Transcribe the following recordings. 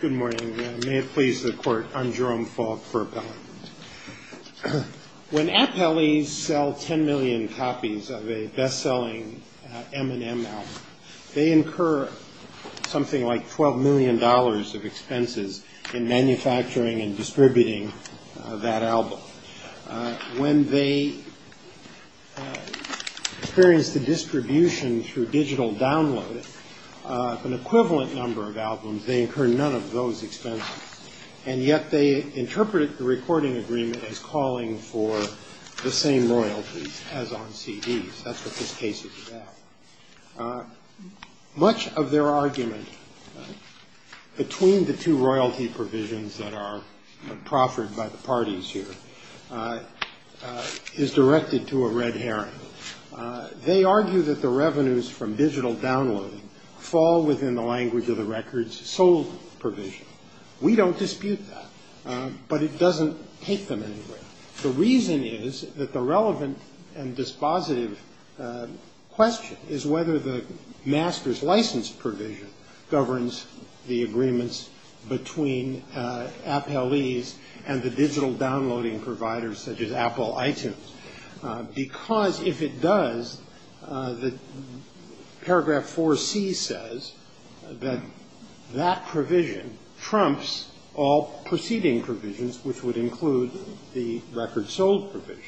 Good morning. May it please the Court, I'm Jerome Falk for Appellate. When appellees sell 10 million copies of a best-selling Eminem album, they incur something like $12 million of expenses in manufacturing and distributing that album. When they experience the distribution through digital download of an equivalent number of albums, they incur none of those expenses. And yet they interpret the recording agreement as calling for the same royalties as on CDs. That's what this case is about. Much of their argument between the two royalty provisions that are proffered by the parties here is directed to a red herring. They argue that the revenues from digital downloading fall within the language of the records sold provision. We don't dispute that, but it doesn't take them anywhere. The reason is that the relevant and dispositive question is whether the master's license provision governs the agreements between appellees and the digital downloading providers such as Apple, iTunes. Because if it does, paragraph 4C says that that provision trumps all preceding provisions, which would include the records sold provision.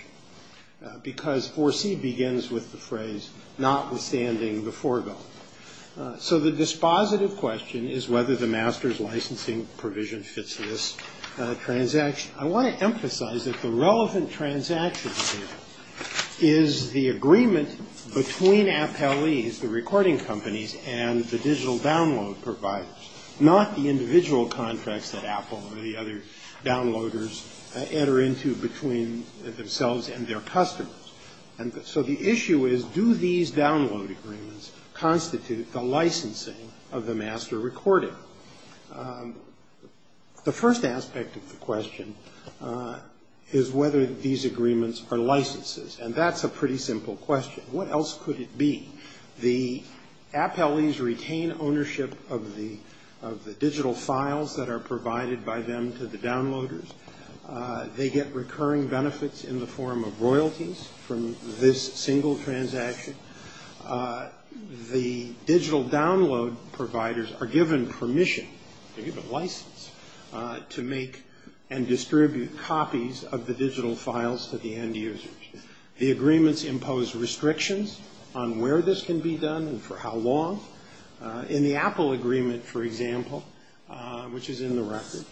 Because 4C begins with the phrase, notwithstanding the foregoing. So the dispositive question is whether the master's licensing provision fits this transaction. I want to emphasize that the relevant transaction here is the agreement between appellees, the recording companies, and the digital download providers, not the individual contracts that Apple or the other downloaders enter into between themselves and their customers. And so the issue is, do these download agreements constitute the licensing of the master recording? The first aspect of the question is whether these agreements are licenses. And that's a pretty simple question. What else could it be? The appellees retain ownership of the digital files that are provided by them to the downloaders. They get recurring benefits in the form of royalties from this single transaction. The digital download providers are given permission, they're given license, to make and distribute copies of the digital files to the end users. The agreements impose restrictions on where this can be done and for how long. In the Apple agreement, for example, which is in the record,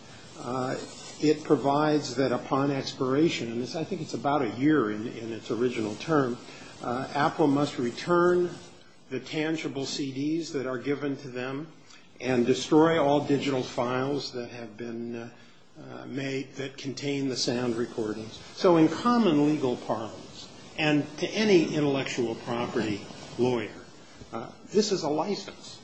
it provides that upon expiration, and I think it's about a year in its original term, Apple must return the tangible CDs that are given to them and destroy all digital files that have been made that contain the sound recordings. So in common legal parlance, and to any intellectual property lawyer, this is a license.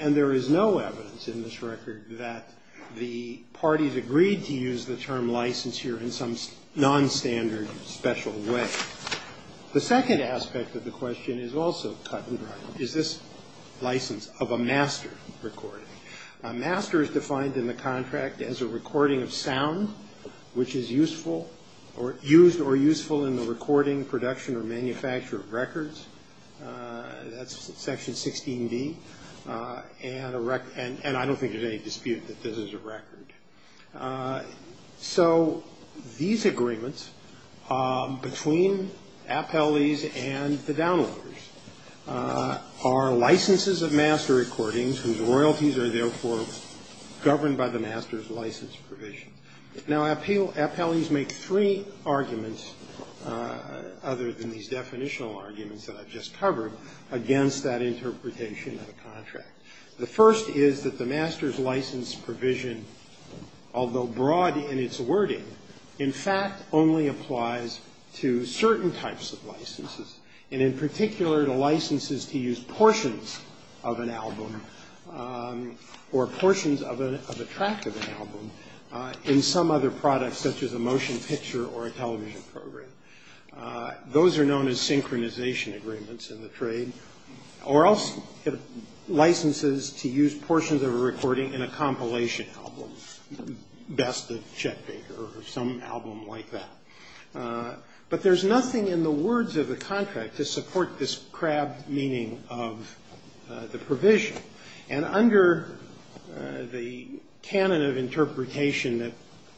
And there is no evidence in this record that the parties agreed to use the term license here in some nonstandard special way. The second aspect of the question is also cut and dry. Is this license of a master recording? A master is defined in the contract as a recording of sound, which is useful or used or useful in the recording, production, or manufacture of records. That's section 16D. And I don't think there's any dispute that this is a record. So these agreements between appellees and the downloaders are licenses of master recordings, whose royalties are therefore governed by the master's license provision. Now, appellees make three arguments, other than these definitional arguments that I've just covered, against that interpretation of the contract. The first is that the master's license provision, although broad in its wording, in fact only applies to certain types of licenses, and in particular to licenses to use portions of an album or portions of a track of an album in some other product, such as a motion picture or a television program. Those are known as synchronization agreements in the trade, or else licenses to use portions of a recording in a compilation album, best of Chet Baker or some album like that. But there's nothing in the words of the contract to support this crab meaning of the provision. And under the canon of interpretation that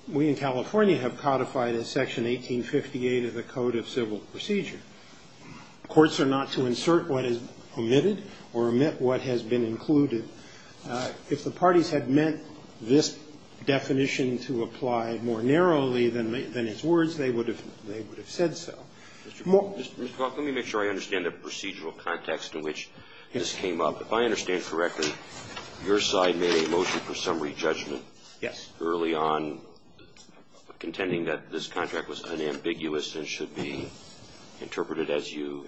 we in California have codified as Section 1858 of the Code of Civil Procedure, courts are not to insert what is omitted or omit what has been included. If the parties had meant this definition to apply more narrowly than its words, they would have said so. Scalia. Let me make sure I understand the procedural context in which this came up. If I understand correctly, your side made a motion for summary judgment. Yes. Early on contending that this contract was unambiguous and should be interpreted as you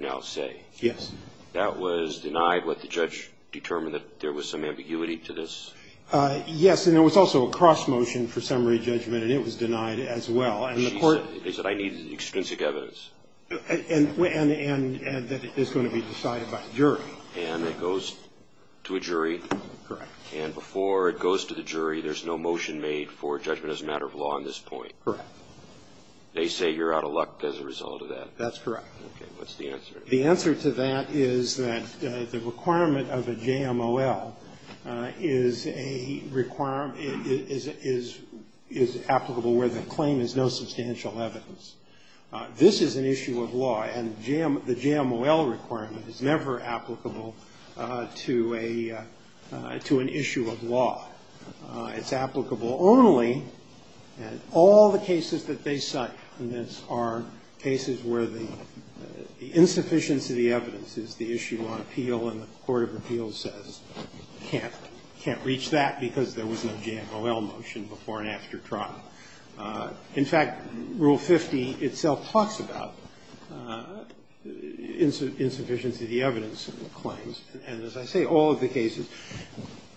now say. Yes. That was denied, but the judge determined that there was some ambiguity to this. Yes. And there was also a cross motion for summary judgment, and it was denied as well. They said I need extrinsic evidence. And that it is going to be decided by a jury. And it goes to a jury. Correct. And before it goes to the jury, there's no motion made for judgment as a matter of law at this point. Correct. They say you're out of luck as a result of that. That's correct. Okay. What's the answer? The answer to that is that the requirement of a JMOL is a requirement is applicable where the claim is no substantial evidence. This is an issue of law. And the JMOL requirement is never applicable to a to an issue of law. It's applicable only in all the cases that they cite. And these are cases where the insufficiency of the evidence is the issue on appeal and the court of appeals says can't reach that because there was no JMOL motion before and after trial. In fact, Rule 50 itself talks about insufficiency of the evidence in the claims. And as I say, all of the cases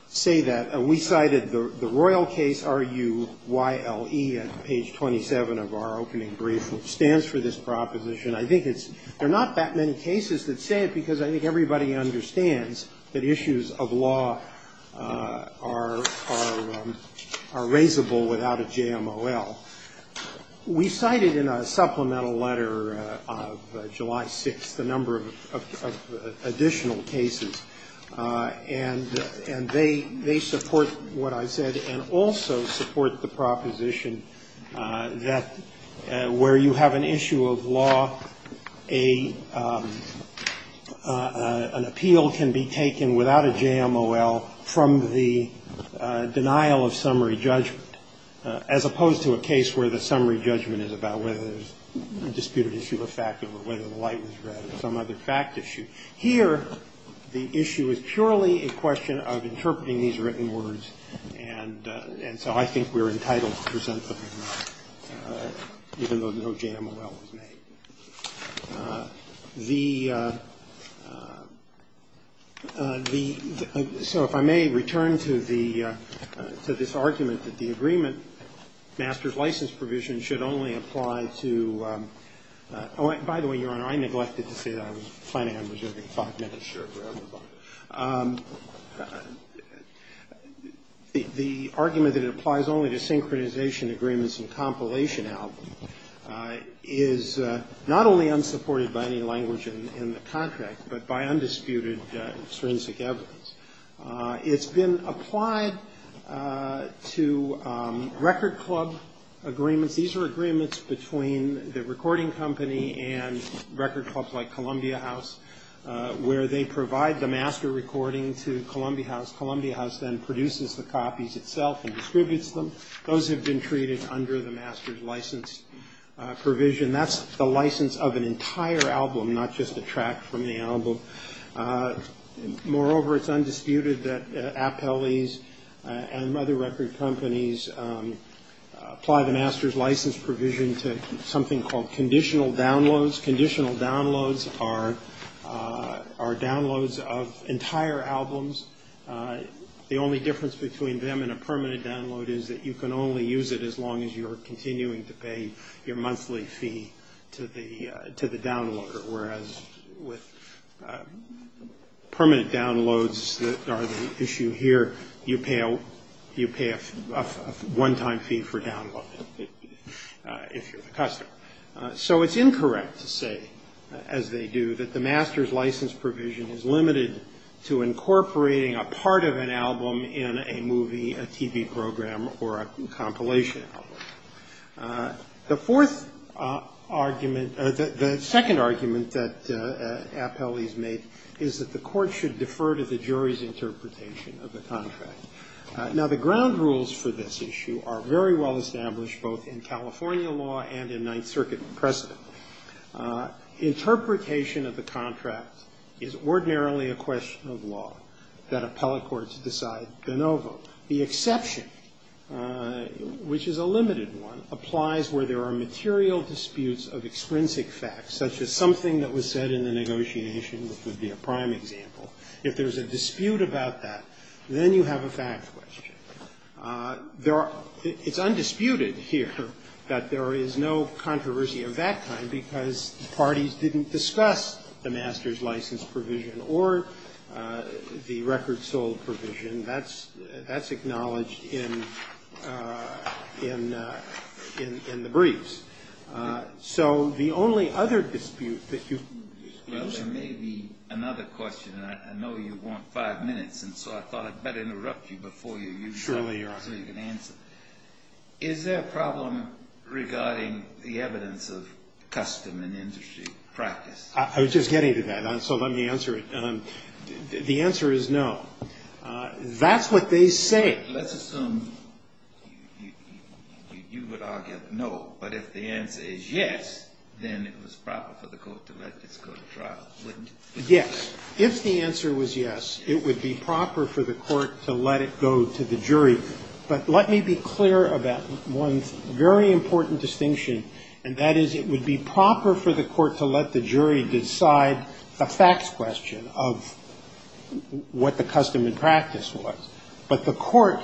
say that. We cited the Royal case, R-U-Y-L-E, at page 27 of our opening brief, which stands for this proposition. I think it's they're not that many cases that say it because I think everybody understands that issues of law are raisable without a JMOL. We cited in a supplemental letter of July 6th a number of additional cases. And they support what I said and also support the proposition that where you have an issue of law, an appeal can be taken without a JMOL from the denial of summary judgment, as opposed to a case where the summary judgment is about whether there's a disputed issue of fact or whether the light was red or some other fact issue. Here, the issue is purely a question of interpreting these written words, and so I think we're entitled to present them even though no JMOL was made. The – so if I may return to the – to this argument that the agreement, master's license provision, should only apply to – oh, by the way, Your Honor, I neglected to say that. I was planning on preserving five minutes. The argument that it applies only to synchronization agreements and compilation out is not only unsupported by any language in the contract, but by undisputed forensic evidence. It's been applied to record club agreements. These are agreements between the recording company and record clubs like Columbia House, where they provide the master recording to Columbia House. Columbia House then produces the copies itself and distributes them. Those have been treated under the master's license provision. That's the license of an entire album, not just a track from the album. Moreover, it's undisputed that appellees and other record companies apply the master's license provision to something called conditional downloads. Conditional downloads are downloads of entire albums. The only difference between them and a permanent download is that you can only use it as long as you're continuing to pay your monthly fee to the downloader, whereas with permanent downloads that are the issue here, you pay a one-time fee for downloading if you're the customer. So it's incorrect to say, as they do, that the master's license provision is limited to incorporating a part of an album in a movie, a TV program, or a compilation album. The fourth argument or the second argument that appellees make is that the court should defer to the jury's interpretation of the contract. Now, the ground rules for this issue are very well established both in California law and in Ninth Circuit precedent. Interpretation of the contract is ordinarily a question of law that appellate courts decide de novo. The exception, which is a limited one, applies where there are material disputes of extrinsic facts, such as something that was said in the negotiation, which would be a prime example. If there's a dispute about that, then you have a fact question. It's undisputed here that there is no controversy of that kind because the parties didn't discuss the master's license provision or the record sold provision. That's acknowledged in the briefs. So the only other dispute that you've disclosed... Well, there may be another question, and I know you want five minutes, and so I thought I'd better interrupt you before you use time so you can answer. Is there a problem regarding the evidence of custom and industry practice? I was just getting to that, so let me answer it. The answer is no. That's what they say. Let's assume you would argue no, but if the answer is yes, then it was proper for the court to let this go to trial, wouldn't it? Yes. If the answer was yes, it would be proper for the court to let it go to the jury. But let me be clear about one very important distinction, and that is it would be proper for the court to let the jury decide a facts question of what the custom and practice was, but the court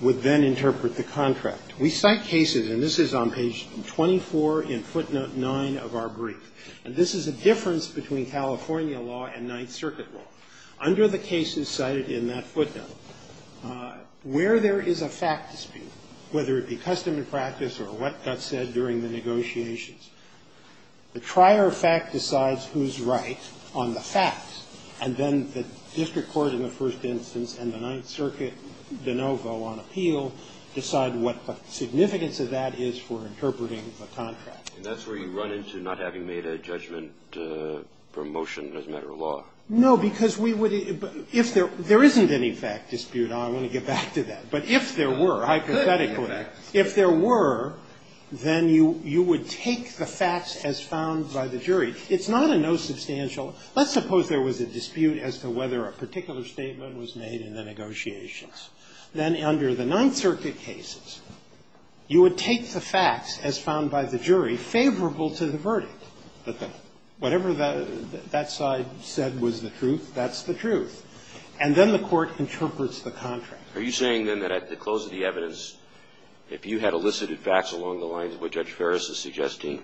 would then interpret the contract. We cite cases, and this is on page 24 in footnote 9 of our brief, and this is a difference between California law and Ninth Circuit law. Under the cases cited in that footnote, where there is a fact dispute, whether it be custom and practice or what got said during the negotiations, the trier of fact decides who's right on the facts, and then the district court in the first instance and the Ninth Circuit de novo on appeal decide what the significance of that is for interpreting the contract. And that's where you run into not having made a judgment from motion as a matter of law. No, because we would be – if there – there isn't any fact dispute. I want to get back to that. But if there were, hypothetically, if there were, then you would take the facts as found by the jury. It's not a no substantial – let's suppose there was a dispute as to whether a particular statement was made in the negotiations. Then under the Ninth Circuit cases, you would take the facts as found by the jury favorable to the verdict. Whatever that side said was the truth, that's the truth. And then the court interprets the contract. Are you saying, then, that at the close of the evidence, if you had elicited facts along the lines of what Judge Ferris is suggesting,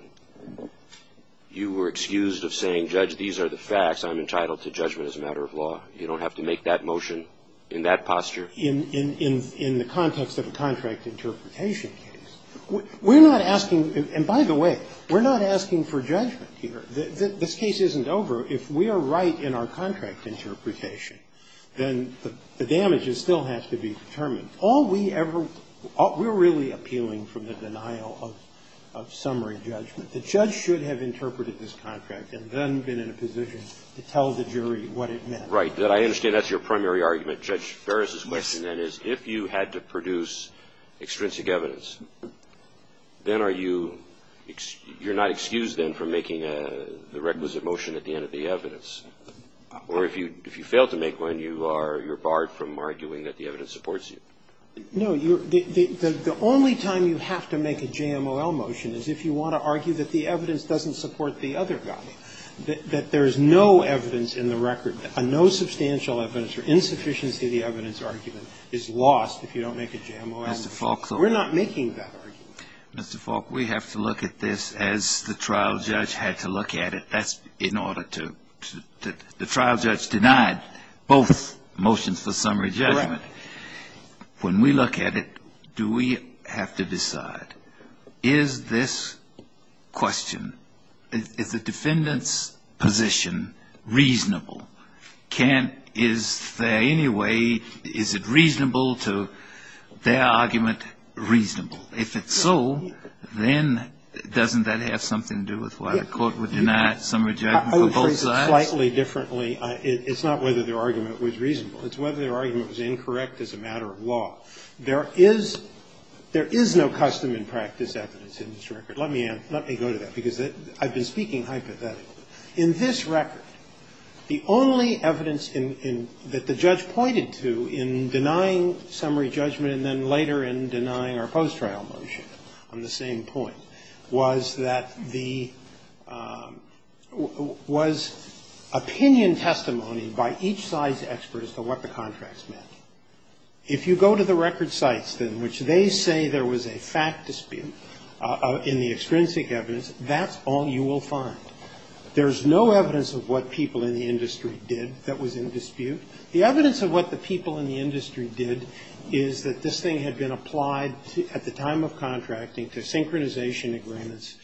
you were excused of saying, Judge, these are the facts. I'm entitled to judgment as a matter of law. You don't have to make that motion in that posture? In the context of a contract interpretation case, we're not asking – and by the way, we're not asking for judgment here. This case isn't over. If we are right in our contract interpretation, then the damage still has to be determined. All we ever – we're really appealing from the denial of summary judgment. The judge should have interpreted this contract and then been in a position to tell the jury what it meant. Right. I understand that's your primary argument. Judge Ferris's question, then, is if you had to produce extrinsic evidence, then are you – you're not excused, then, from making the requisite motion at the end of the evidence? Or if you fail to make one, you are – you're barred from arguing that the evidence supports you? No. The only time you have to make a JMOL motion is if you want to argue that the evidence doesn't support the other guy. That there is no evidence in the record, no substantial evidence or insufficiency of the evidence argument is lost if you don't make a JMOL argument. We're not making that argument. Mr. Falk, we have to look at this as the trial judge had to look at it. That's in order to – the trial judge denied both motions for summary judgment. Correct. When we look at it, do we have to decide, is this question – is the defendant 's position reasonable? Can't – is there any way – is it reasonable to – their argument reasonable? If it's so, then doesn't that have something to do with why the court would deny summary judgment for both sides? I would phrase it slightly differently. It's not whether their argument was reasonable. It's whether their argument was incorrect as a matter of law. There is – there is no custom and practice evidence in this record. Let me – let me go to that, because I've been speaking hypothetically. In this record, the only evidence in – that the judge pointed to in denying summary judgment and then later in denying our post-trial motion on the same point was that the – was opinion testimony by each side's expert as to what the contracts meant. If you go to the record sites in which they say there was a fact dispute in the extrinsic evidence, that's all you will find. There's no evidence of what people in the industry did that was in dispute. The evidence of what the people in the industry did is that this thing had been applied at the time of contracting to synchronization agreements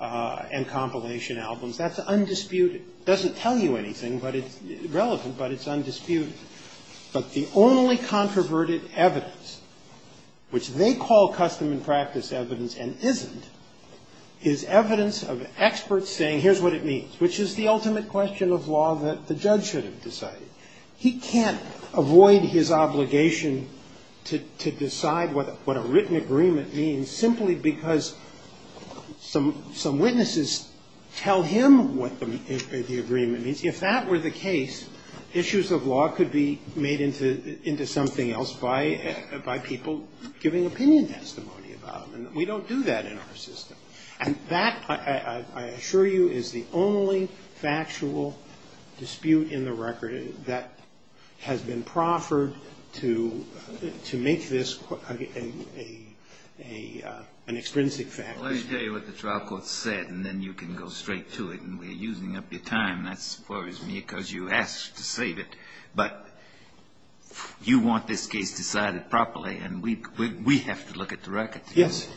and compilation albums. That's undisputed. It doesn't tell you anything, but it's relevant, but it's undisputed. But the only controverted evidence, which they call custom and practice evidence and isn't, is evidence of experts saying here's what it means, which is the ultimate question of law that the judge should have decided. He can't avoid his obligation to decide what a written agreement means simply because some witnesses tell him what the agreement means. If that were the case, issues of law could be made into something else by people giving opinion testimony about them. We don't do that in our system. And that, I assure you, is the only factual dispute in the record that has been proffered to make this an extrinsic fact dispute. Well, let me tell you what the trial court said, and then you can go straight to it, and we're using up your time, as far as me, because you asked to save it. But you want this case decided properly, and we have to look at the record. Yes.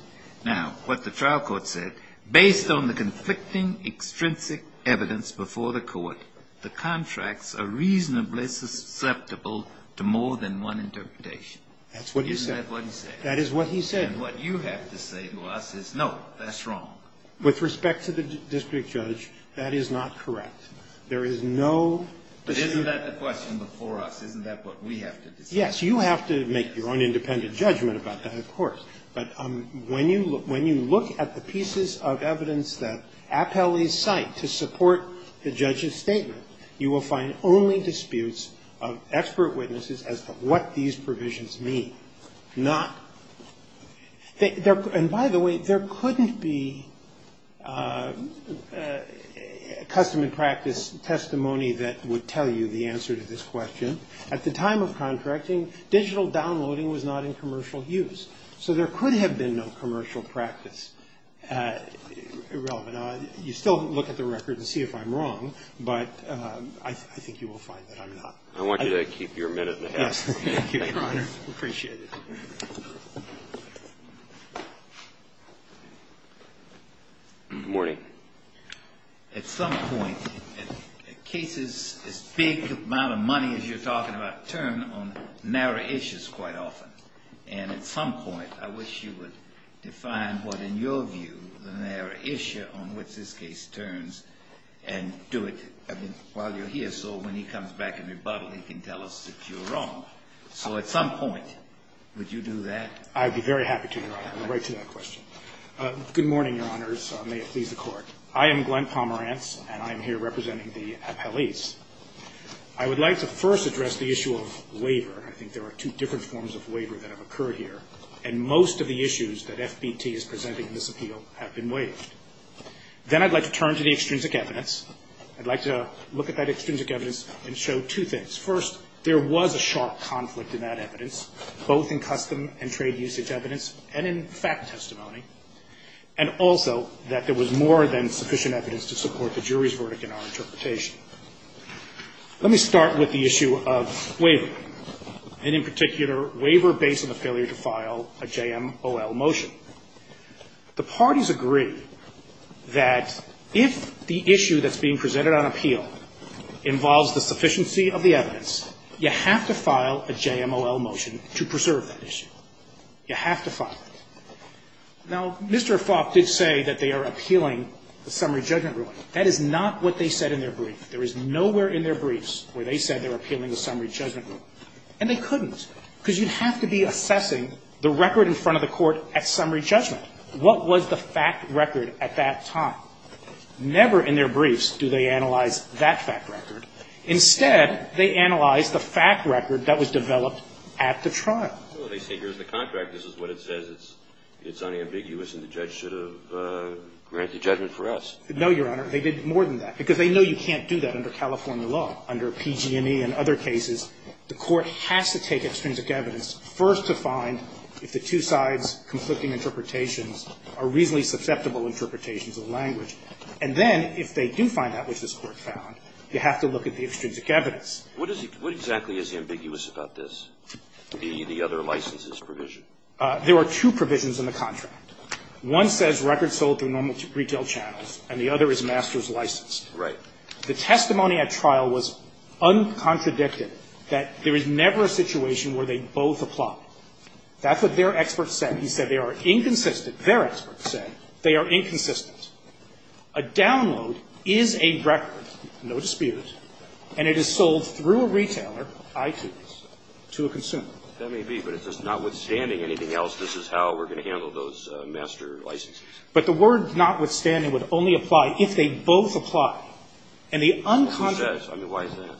Now, what the trial court said, based on the conflicting extrinsic evidence before the Court, the contracts are reasonably susceptible to more than one interpretation. That's what he said. That is what he said. And what you have to say to us is, no, that's wrong. With respect to the district judge, that is not correct. There is no dispute. But isn't that the question before us? Isn't that what we have to decide? Yes. You have to make your own independent judgment about that, of course. But when you look at the pieces of evidence that appellees cite to support the judge's statement, you will find only disputes of expert witnesses as to what these provisions mean, not they're – and by the way, there couldn't be custom and practice testimony that would tell you the answer to this question. At the time of contracting, digital downloading was not in commercial use, so there could have been no commercial practice relevant. You still look at the record and see if I'm wrong, but I think you will find that I'm not. I want you to keep your minute and a half. Thank you, Your Honor. Appreciate it. Good morning. At some point, cases as big amount of money as you're talking about turn on narrow issues quite often. And at some point, I wish you would define what, in your view, the narrow issue on which this case turns and do it while you're here so when he comes back and rebuttal he can tell us if you're wrong. So at some point, would you do that? I'd be very happy to, Your Honor. I'm going to write to that question. Good morning, Your Honors. May it please the Court. I am Glenn Pomerantz, and I'm here representing the appellees. I would like to first address the issue of waiver. I think there are two different forms of waiver that have occurred here, and most of the issues that FBT is presenting in this appeal have been waived. Then I'd like to turn to the extrinsic evidence. I'd like to look at that extrinsic evidence and show two things. First, there was a sharp conflict in that evidence, both in custom and trade usage evidence and in fact testimony, and also that there was more than sufficient evidence to support the jury's verdict in our interpretation. Let me start with the issue of waiver, and in particular, waiver based on the failure to file a JMOL motion. The parties agree that if the issue that's being presented on appeal involves the sufficiency of the evidence, you have to file a JMOL motion to preserve that issue. You have to file it. Now, Mr. Falk did say that they are appealing the summary judgment ruling. That is not what they said in their brief. There is nowhere in their briefs where they said they were appealing the summary judgment ruling. And they couldn't, because you'd have to be assessing the record in front of the jury to make a summary judgment. What was the fact record at that time? Never in their briefs do they analyze that fact record. Instead, they analyze the fact record that was developed at the trial. Well, they say here's the contract. This is what it says. It's unambiguous, and the judge should have granted the judgment for us. No, Your Honor. They did more than that, because they know you can't do that under California law. Under PG&E and other cases, the Court has to take extrinsic evidence first to find if the two sides' conflicting interpretations are reasonably susceptible interpretations of language. And then, if they do find that which this Court found, you have to look at the extrinsic evidence. What is the – what exactly is ambiguous about this, the other licenses provision? There are two provisions in the contract. One says records sold through normal retail channels, and the other is master's licensed. The testimony at trial was uncontradicted, that there is never a situation where they both apply. That's what their experts said. He said they are inconsistent. Their experts said they are inconsistent. A download is a record, no dispute, and it is sold through a retailer, iTunes, to a consumer. That may be. But if it's notwithstanding anything else, this is how we're going to handle those master licenses. But the word notwithstanding would only apply if they both apply. And the uncontradicted – Well, who says? I mean, why is that?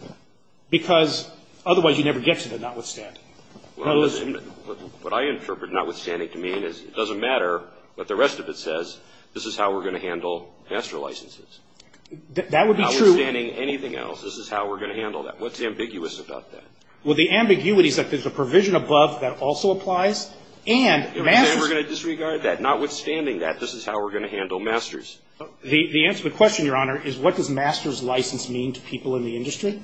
Because otherwise you never get to the notwithstanding. Well, listen. What I interpret notwithstanding to mean is it doesn't matter what the rest of it says. This is how we're going to handle master licenses. That would be true. Notwithstanding anything else, this is how we're going to handle that. What's ambiguous about that? Well, the ambiguity is that there's a provision above that also applies, and master's – And we're going to disregard that. Notwithstanding that, this is how we're going to handle master's. The answer to the question, Your Honor, is what does master's license mean to people in the industry?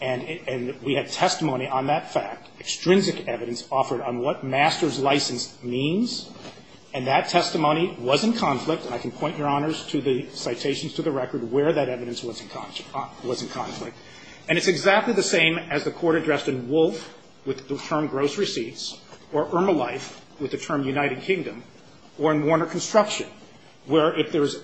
And we had testimony on that fact, extrinsic evidence offered on what master's license means. And that testimony was in conflict, and I can point, Your Honors, to the citations to the record where that evidence was in conflict. And it's exactly the same as the Court addressed in Wolfe with the term gross receipts or Ermolife with the term United Kingdom or in Warner Construction, where if there is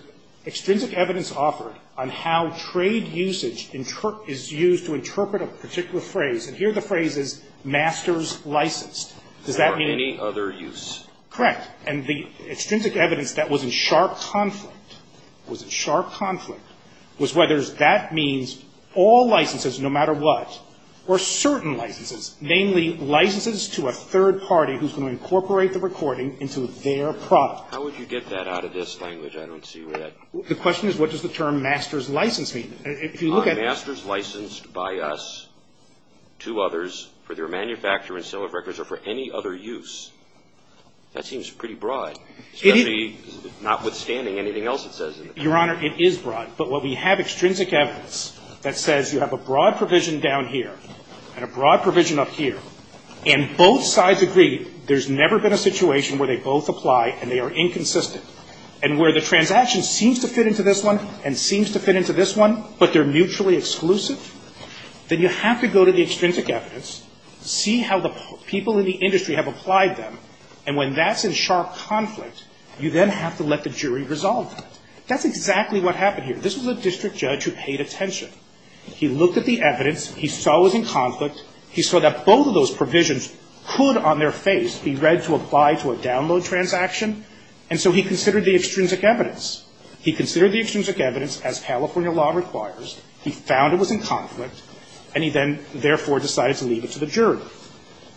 used to interpret a particular phrase, and here the phrase is master's licensed. Does that mean – For any other use. Correct. And the extrinsic evidence that was in sharp conflict, was in sharp conflict, was whether that means all licenses no matter what or certain licenses, namely licenses to a third party who's going to incorporate the recording into their product. How would you get that out of this language? I don't see where that – The question is what does the term master's license mean? If you look at – Master's licensed by us to others for their manufacture and sale of records or for any other use. That seems pretty broad, especially notwithstanding anything else it says in the text. Your Honor, it is broad. But what we have extrinsic evidence that says you have a broad provision down here and a broad provision up here, and both sides agree there's never been a situation where they both apply and they are inconsistent. And where the transaction seems to fit into this one and seems to fit into this one, but they're mutually exclusive, then you have to go to the extrinsic evidence, see how the people in the industry have applied them, and when that's in sharp conflict, you then have to let the jury resolve that. That's exactly what happened here. This was a district judge who paid attention. He looked at the evidence. He saw it was in conflict. He saw that both of those provisions could on their face be read to apply to a download transaction, and so he considered the extrinsic evidence. He considered the extrinsic evidence as California law requires. He found it was in conflict, and he then therefore decided to leave it to the jury.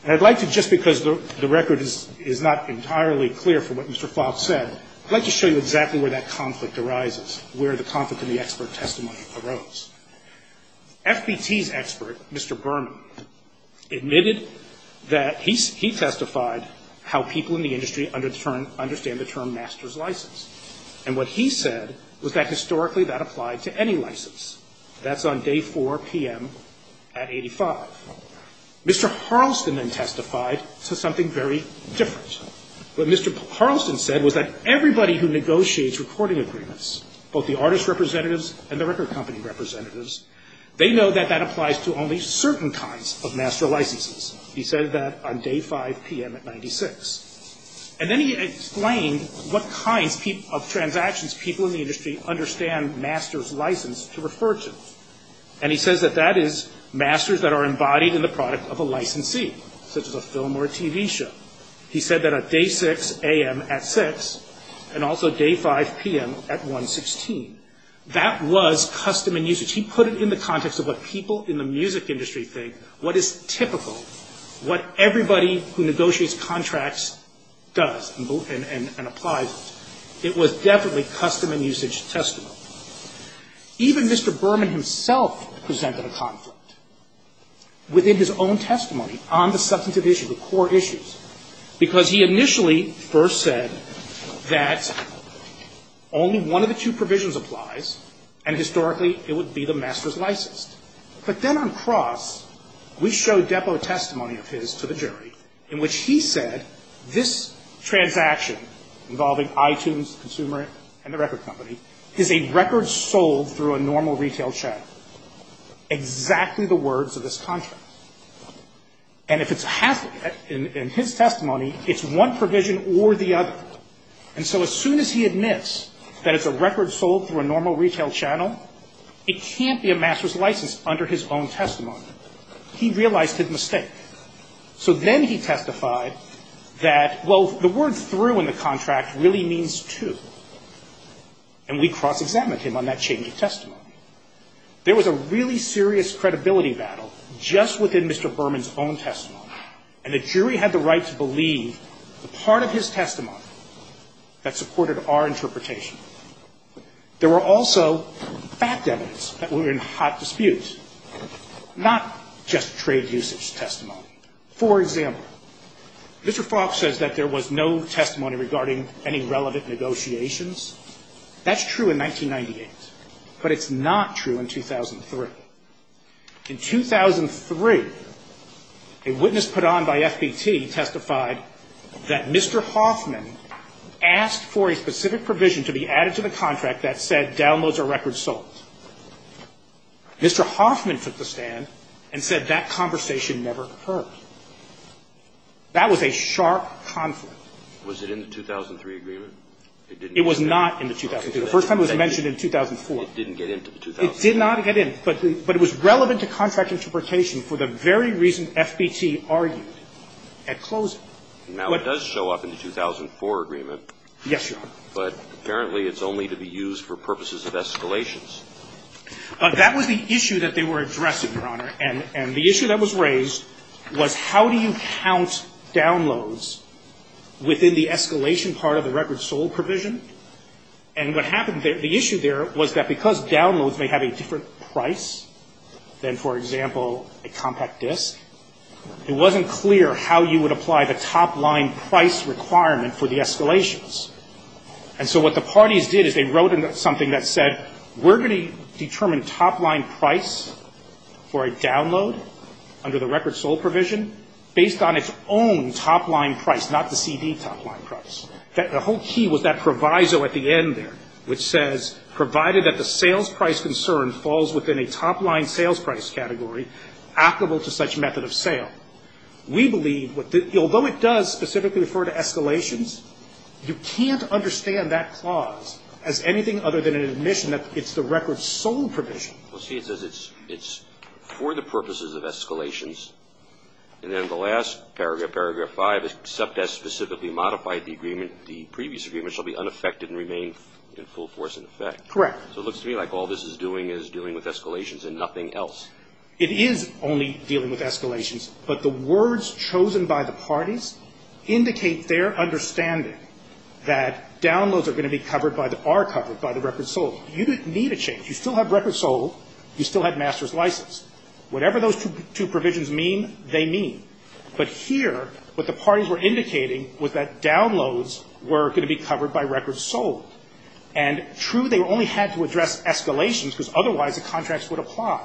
And I'd like to, just because the record is not entirely clear from what Mr. Falk said, I'd like to show you exactly where that conflict arises, where the conflict in the expert testimony arose. FBT's expert, Mr. Berman, admitted that he testified how people in the industry understand the term master's license, and what he said was that historically that applied to any license. That's on day 4 p.m. at 85. Mr. Harleston then testified to something very different. What Mr. Harleston said was that everybody who negotiates recording agreements, both the artist representatives and the record company representatives, they know that that applies to only certain kinds of master licenses. He said that on day 5 p.m. at 96. And then he explained what kinds of transactions people in the industry understand master's license to refer to. And he says that that is masters that are embodied in the product of a licensee, such as a film or a TV show. He said that at day 6 a.m. at 6, and also day 5 p.m. at 116. That was custom and usage. He put it in the context of what people in the music industry think, what is typical, what everybody who negotiates contracts does and applies. It was definitely custom and usage testimony. Even Mr. Berman himself presented a conflict within his own testimony on the substantive issues, the core issues, because he initially first said that only one of the two provisions applies, and historically, it would be the master's license. But then on cross, we showed depot testimony of his to the jury in which he said this transaction involving iTunes, the consumer, and the record company is a record sold through a normal retail chain. Exactly the words of this contract. And if it's a hazard in his testimony, it's one provision or the other. And so as soon as he admits that it's a record sold through a normal retail channel, it can't be a master's license under his own testimony. He realized his mistake. So then he testified that, well, the word through in the contract really means to. And we cross-examined him on that change of testimony. There was a really serious credibility battle just within Mr. Berman's own testimony, and the jury had the right to believe the part of his testimony that supported our interpretation. There were also fact evidence that were in hot dispute, not just trade usage testimony. For example, Mr. Fox says that there was no testimony regarding any relevant negotiations. That's true in 1998. But it's not true in 2003. In 2003, a witness put on by FBT testified that Mr. Hoffman asked for a specific provision to be added to the contract that said downloads are record sold. Mr. Hoffman took the stand and said that conversation never occurred. That was a sharp conflict. Was it in the 2003 agreement? It was not in the 2003. The first time it was mentioned in 2004. It didn't get into the 2004. It did not get in. But it was relevant to contract interpretation for the very reason FBT argued at closing. Now, it does show up in the 2004 agreement. Yes, Your Honor. But apparently it's only to be used for purposes of escalations. But that was the issue that they were addressing, Your Honor. And the issue that was raised was how do you count downloads within the escalation part of the record sold provision? And what happened there, the issue there was that because downloads may have a different price than, for example, a compact disc, it wasn't clear how you would apply the top line price requirement for the escalations. And so what the parties did is they wrote in something that said, we're going to determine top line price for a download under the record sold provision based on its own top line price, not the CD top line price. The whole key was that proviso at the end there, which says, provided that the sales price concern falls within a top line sales price category, applicable to such method of sale. We believe, although it does specifically refer to escalations, you can't understand that clause as anything other than an admission that it's the record sold provision. Well, see, it says it's for the purposes of escalations. And then the last paragraph, paragraph 5, except as specifically modified the agreement, the previous agreement shall be unaffected and remain in full force in effect. Correct. So it looks to me like all this is doing is dealing with escalations and nothing else. It is only dealing with escalations. But the words chosen by the parties indicate their understanding that downloads are going to be covered by the, are covered by the record sold. You didn't need a change. You still have record sold. You still have master's license. Whatever those two provisions mean, they mean. But here, what the parties were indicating was that downloads were going to be covered by record sold. And true, they only had to address escalations because otherwise the contracts would apply.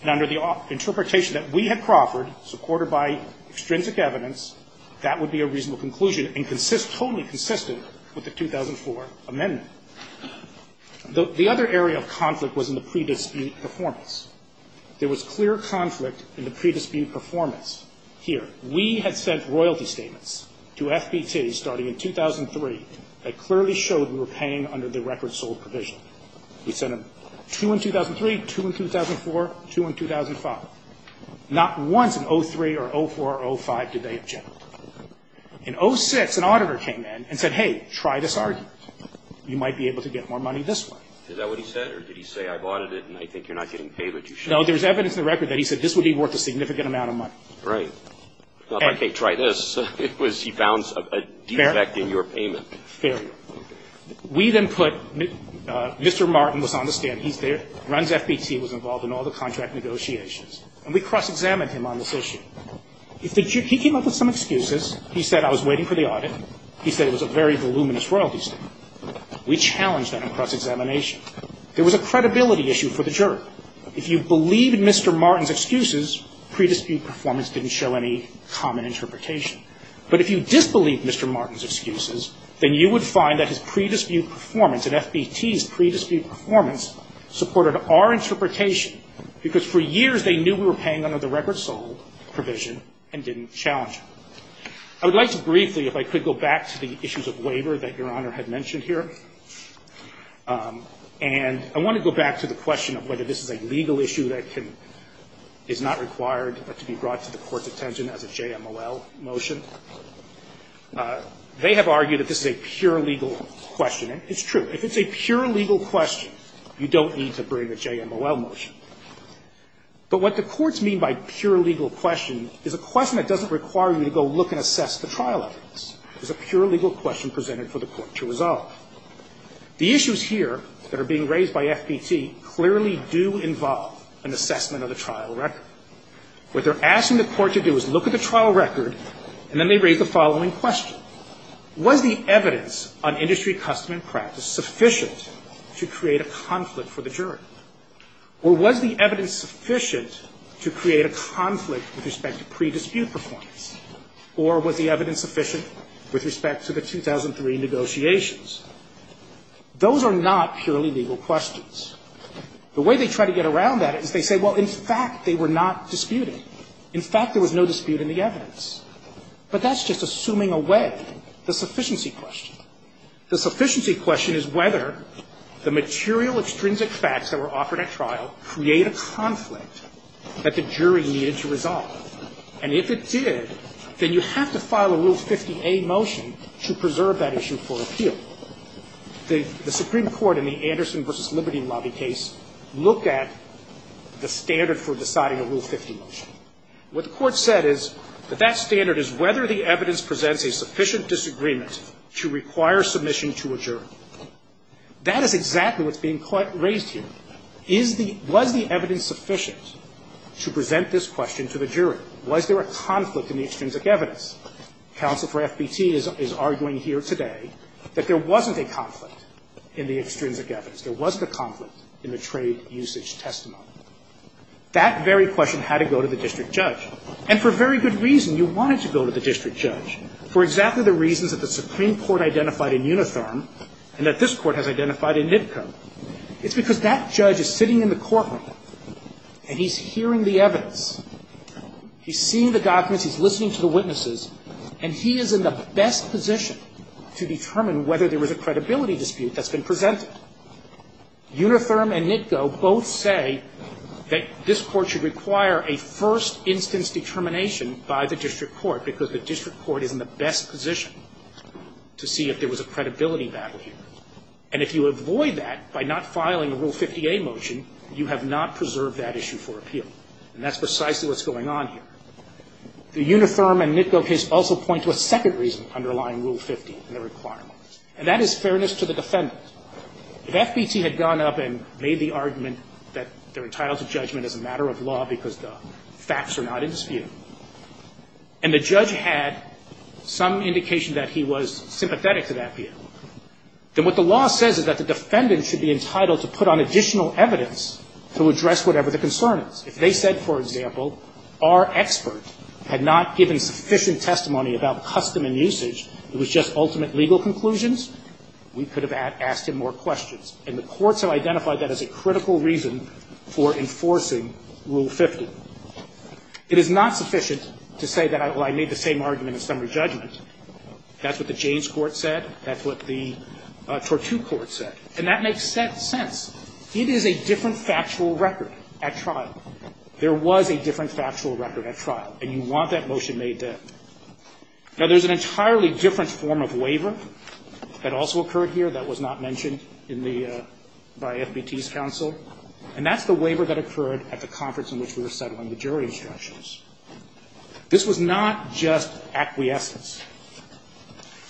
And under the interpretation that we had proffered, supported by extrinsic evidence, that would be a reasonable conclusion and consist, totally consistent with the 2004 amendment. The other area of conflict was in the pre-dispute performance. There was clear conflict in the pre-dispute performance. Here, we had sent royalty statements to FBT starting in 2003 that clearly showed we were paying under the record sold provision. We sent them two in 2003, two in 2004, two in 2005. Not once in 03 or 04 or 05 did they object. In 06, an auditor came in and said, hey, try this argument. You might be able to get more money this way. Is that what he said? Or did he say, I bought it and I think you're not getting paid, but you should? No, there's evidence in the record that he said this would be worth a significant amount of money. Right. If I can't try this, it was he found a defect in your payment. Fair. We then put Mr. Martin was on the stand. He's there, runs FBT, was involved in all the contract negotiations. And we cross-examined him on this issue. He came up with some excuses. He said, I was waiting for the audit. He said it was a very voluminous royalty statement. We challenged that in cross-examination. There was a credibility issue for the jury. If you believed Mr. Martin's excuses, pre-dispute performance didn't show any common interpretation. But if you disbelieved Mr. Martin's excuses, then you would find that his pre-dispute performance and FBT's pre-dispute performance supported our interpretation, because for years they knew we were paying under the record sold provision and didn't challenge it. I would like to briefly, if I could, go back to the issues of labor that Your Honor had mentioned here. And I want to go back to the question of whether this is a legal issue that is not required to be brought to the Court's attention as a JMOL motion. They have argued that this is a pure legal question. And it's true. If it's a pure legal question, you don't need to bring a JMOL motion. But what the courts mean by pure legal question is a question that doesn't require you to go look and assess the trial evidence. It's a pure legal question presented for the court to resolve. The issues here that are being raised by FBT clearly do involve an assessment of the trial record. What they're asking the court to do is look at the trial record, and then they raise the following question. Was the evidence on industry custom and practice sufficient to create a conflict for the jury? Or was the evidence sufficient to create a conflict with respect to pre-dispute performance? Or was the evidence sufficient with respect to the 2003 negotiations? Those are not purely legal questions. The way they try to get around that is they say, well, in fact, they were not disputing. In fact, there was no dispute in the evidence. But that's just assuming away the sufficiency question. The sufficiency question is whether the material extrinsic facts that were offered at trial create a conflict that the jury needed to resolve. And if it did, then you have to file a Rule 50A motion to preserve that issue for appeal. The Supreme Court in the Anderson v. Liberty lobby case looked at the standard for deciding a Rule 50 motion. What the court said is that that standard is whether the evidence presents a sufficient disagreement to require submission to a jury. That is exactly what's being raised here. The question is whether there was a conflict in the extrinsic evidence. Counsel for FBT is arguing here today that there wasn't a conflict in the extrinsic evidence. There wasn't a conflict in the trade usage testimony. That very question had to go to the district judge. And for very good reason. You wanted to go to the district judge for exactly the reasons that the Supreme Court identified in Unitherm and that this Court has identified in NITCO. It's because that judge is sitting in the courtroom and he's hearing the evidence. He's seeing the documents. He's listening to the witnesses. And he is in the best position to determine whether there was a credibility dispute that's been presented. Unitherm and NITCO both say that this Court should require a first instance determination by the district court because the district court is in the best position to see if there was a credibility battle here. And if you avoid that by not filing a Rule 50A motion, you have not preserved that issue for appeal. And that's precisely what's going on here. The Unitherm and NITCO case also point to a second reason underlying Rule 50 and the requirements, and that is fairness to the defendant. If FBT had gone up and made the argument that they're entitled to judgment as a matter of law because the facts are not in dispute, and the judge had some indication that he was sympathetic to that view, then what the law says is that the defendant should be entitled to put on additional evidence to address whatever the concern is. If they said, for example, our expert had not given sufficient testimony about custom and usage, it was just ultimate legal conclusions, we could have asked him more questions. And the courts have identified that as a critical reason for enforcing Rule 50. It is not sufficient to say that, well, I made the same argument in summary judgment. That's what the Jaynes Court said. That's what the Tortu Court said. And that makes sense. It is a different factual record at trial. There was a different factual record at trial, and you want that motion made there. Now, there's an entirely different form of waiver that also occurred here that was not mentioned in the – by FBT's counsel, and that's the waiver that occurred at the conference in which we were settling the jury instructions. This was not just acquiescence.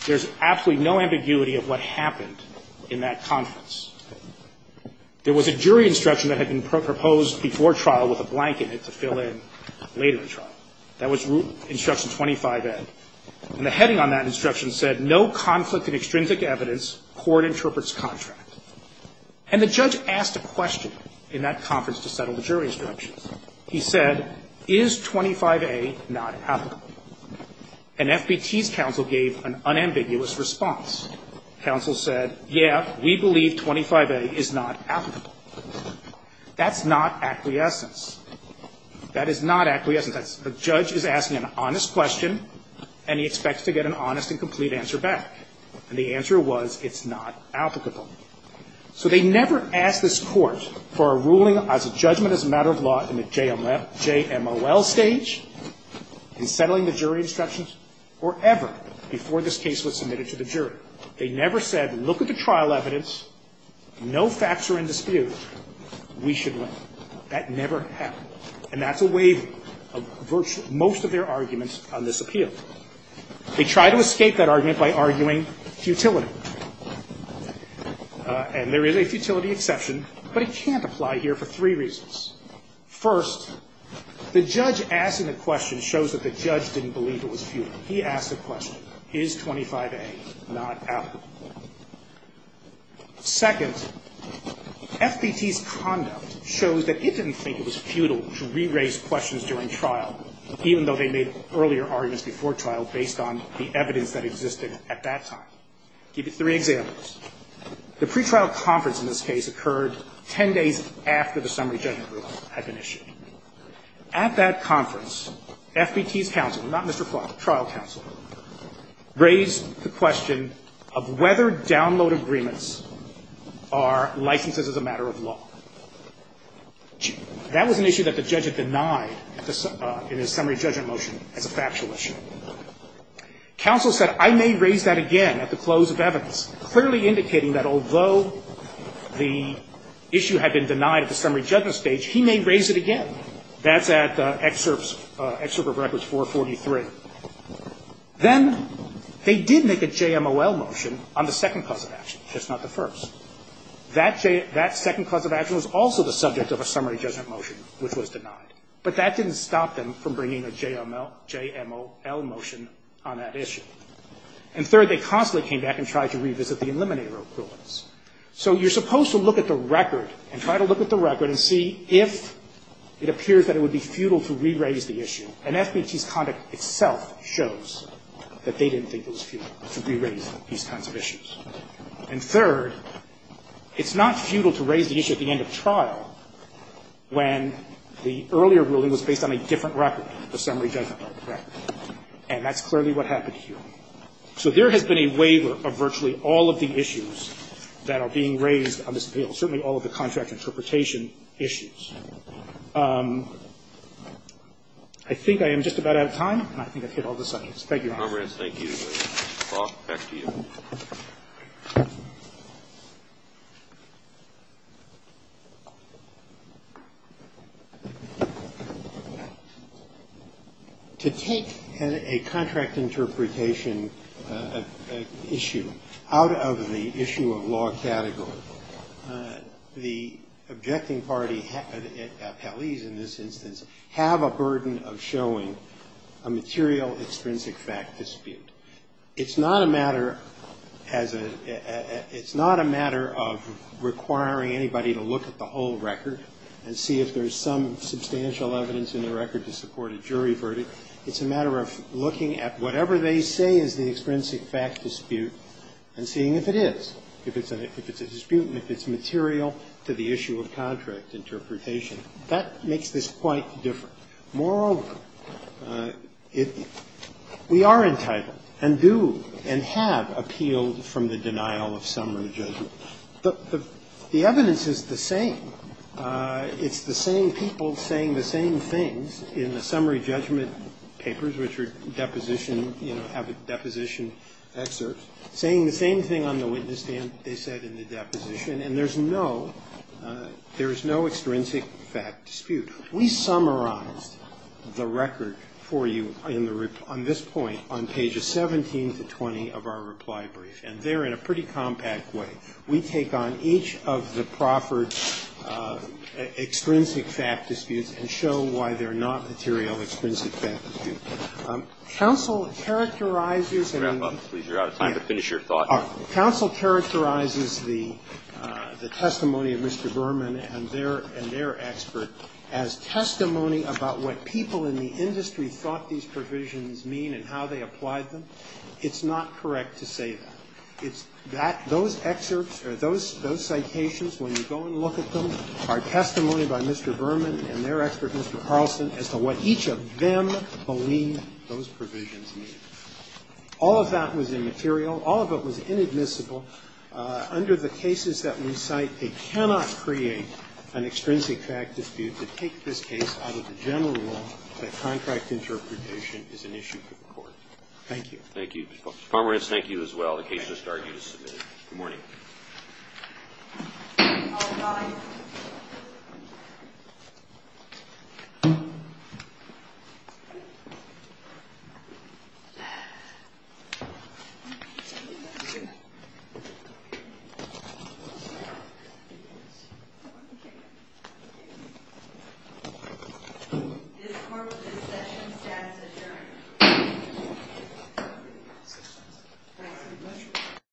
There's absolutely no ambiguity of what happened in that conference. There was a jury instruction that had been proposed before trial with a blank in it to fill in later in trial. That was Instruction 25a. And the heading on that instruction said, No conflict in extrinsic evidence. Court interprets contract. And the judge asked a question in that conference to settle the jury instructions. He said, is 25a not applicable? And FBT's counsel gave an unambiguous response. Counsel said, yeah, we believe 25a is not applicable. That's not acquiescence. That is not acquiescence. The judge is asking an honest question, and he expects to get an honest and complete answer back. And the answer was, it's not applicable. So they never asked this Court for a ruling as a judgment as a matter of law in the jury instructions or ever before this case was submitted to the jury. They never said, look at the trial evidence. No facts are in dispute. We should win. That never happened. And that's a waiving of virtually most of their arguments on this appeal. They tried to escape that argument by arguing futility. And there is a futility exception, but it can't apply here for three reasons. First, the judge asking the question shows that the judge didn't believe it was futile. He asked the question, is 25a not applicable? Second, FBT's conduct shows that it didn't think it was futile to re-raise questions during trial, even though they made earlier arguments before trial based on the evidence that existed at that time. I'll give you three examples. The pretrial conference in this case occurred 10 days after the summary judgment ruling had been issued. At that conference, FBT's counsel, not Mr. Clark, trial counsel, raised the question of whether download agreements are licenses as a matter of law. That was an issue that the judge had denied in his summary judgment motion as a factual issue. Counsel said, I may raise that again at the close of evidence. Clearly indicating that although the issue had been denied at the summary judgment stage, he may raise it again. That's at excerpt of records 443. Then they did make a JMOL motion on the second cause of action, just not the first. That second cause of action was also the subject of a summary judgment motion, which was denied. But that didn't stop them from bringing a JMOL motion on that issue. And third, they constantly came back and tried to revisit the eliminator rulings. So you're supposed to look at the record and try to look at the record and see if it appears that it would be futile to re-raise the issue. And FBT's conduct itself shows that they didn't think it was futile to re-raise these kinds of issues. And third, it's not futile to raise the issue at the end of trial when the earlier ruling was based on a different record, the summary judgment record. And that's clearly what happened here. So there has been a waiver of virtually all of the issues that are being raised on this appeal, certainly all of the contract interpretation issues. I think I am just about out of time, and I think I've hit all the subjects. Thank you, Your Honor. Roberts, thank you. Back to you. To take a contract interpretation issue out of the issue of law category, the objecting in this instance have a burden of showing a material extrinsic fact dispute. It's not a matter as a ‑‑ it's not a matter of requiring anybody to look at the whole record and see if there's some substantial evidence in the record to support a jury verdict. It's a matter of looking at whatever they say is the extrinsic fact dispute and seeing if it is, if it's a dispute and if it's material to the issue of contract interpretation. That makes this quite different. Moreover, we are entitled and do and have appealed from the denial of summary judgment. The evidence is the same. It's the same people saying the same things in the summary judgment papers, which have a deposition excerpt, saying the same thing on the witness stand that they said in the deposition, and there's no extrinsic fact dispute. We summarized the record for you on this point on pages 17 to 20 of our reply brief, and there in a pretty compact way. We take on each of the proffered extrinsic fact disputes and show why they're not material extrinsic fact disputes. Counsel characterizes the testimony of Mr. Berman and their expert as testimony about what people in the industry thought these provisions mean and how they applied them. It's not correct to say that. Those excerpts or those citations, when you go and look at them, are testimony by Mr. Berman and their expert, Mr. Carlson, as to what each of them believe those provisions mean. All of that was immaterial. All of it was inadmissible. Under the cases that we cite, they cannot create an extrinsic fact dispute to take this case out of the general rule that contract interpretation is an issue for the Court. Thank you. Roberts. Thank you. The case just argued is submitted. Good morning. All rise. This Court with this session stands adjourned.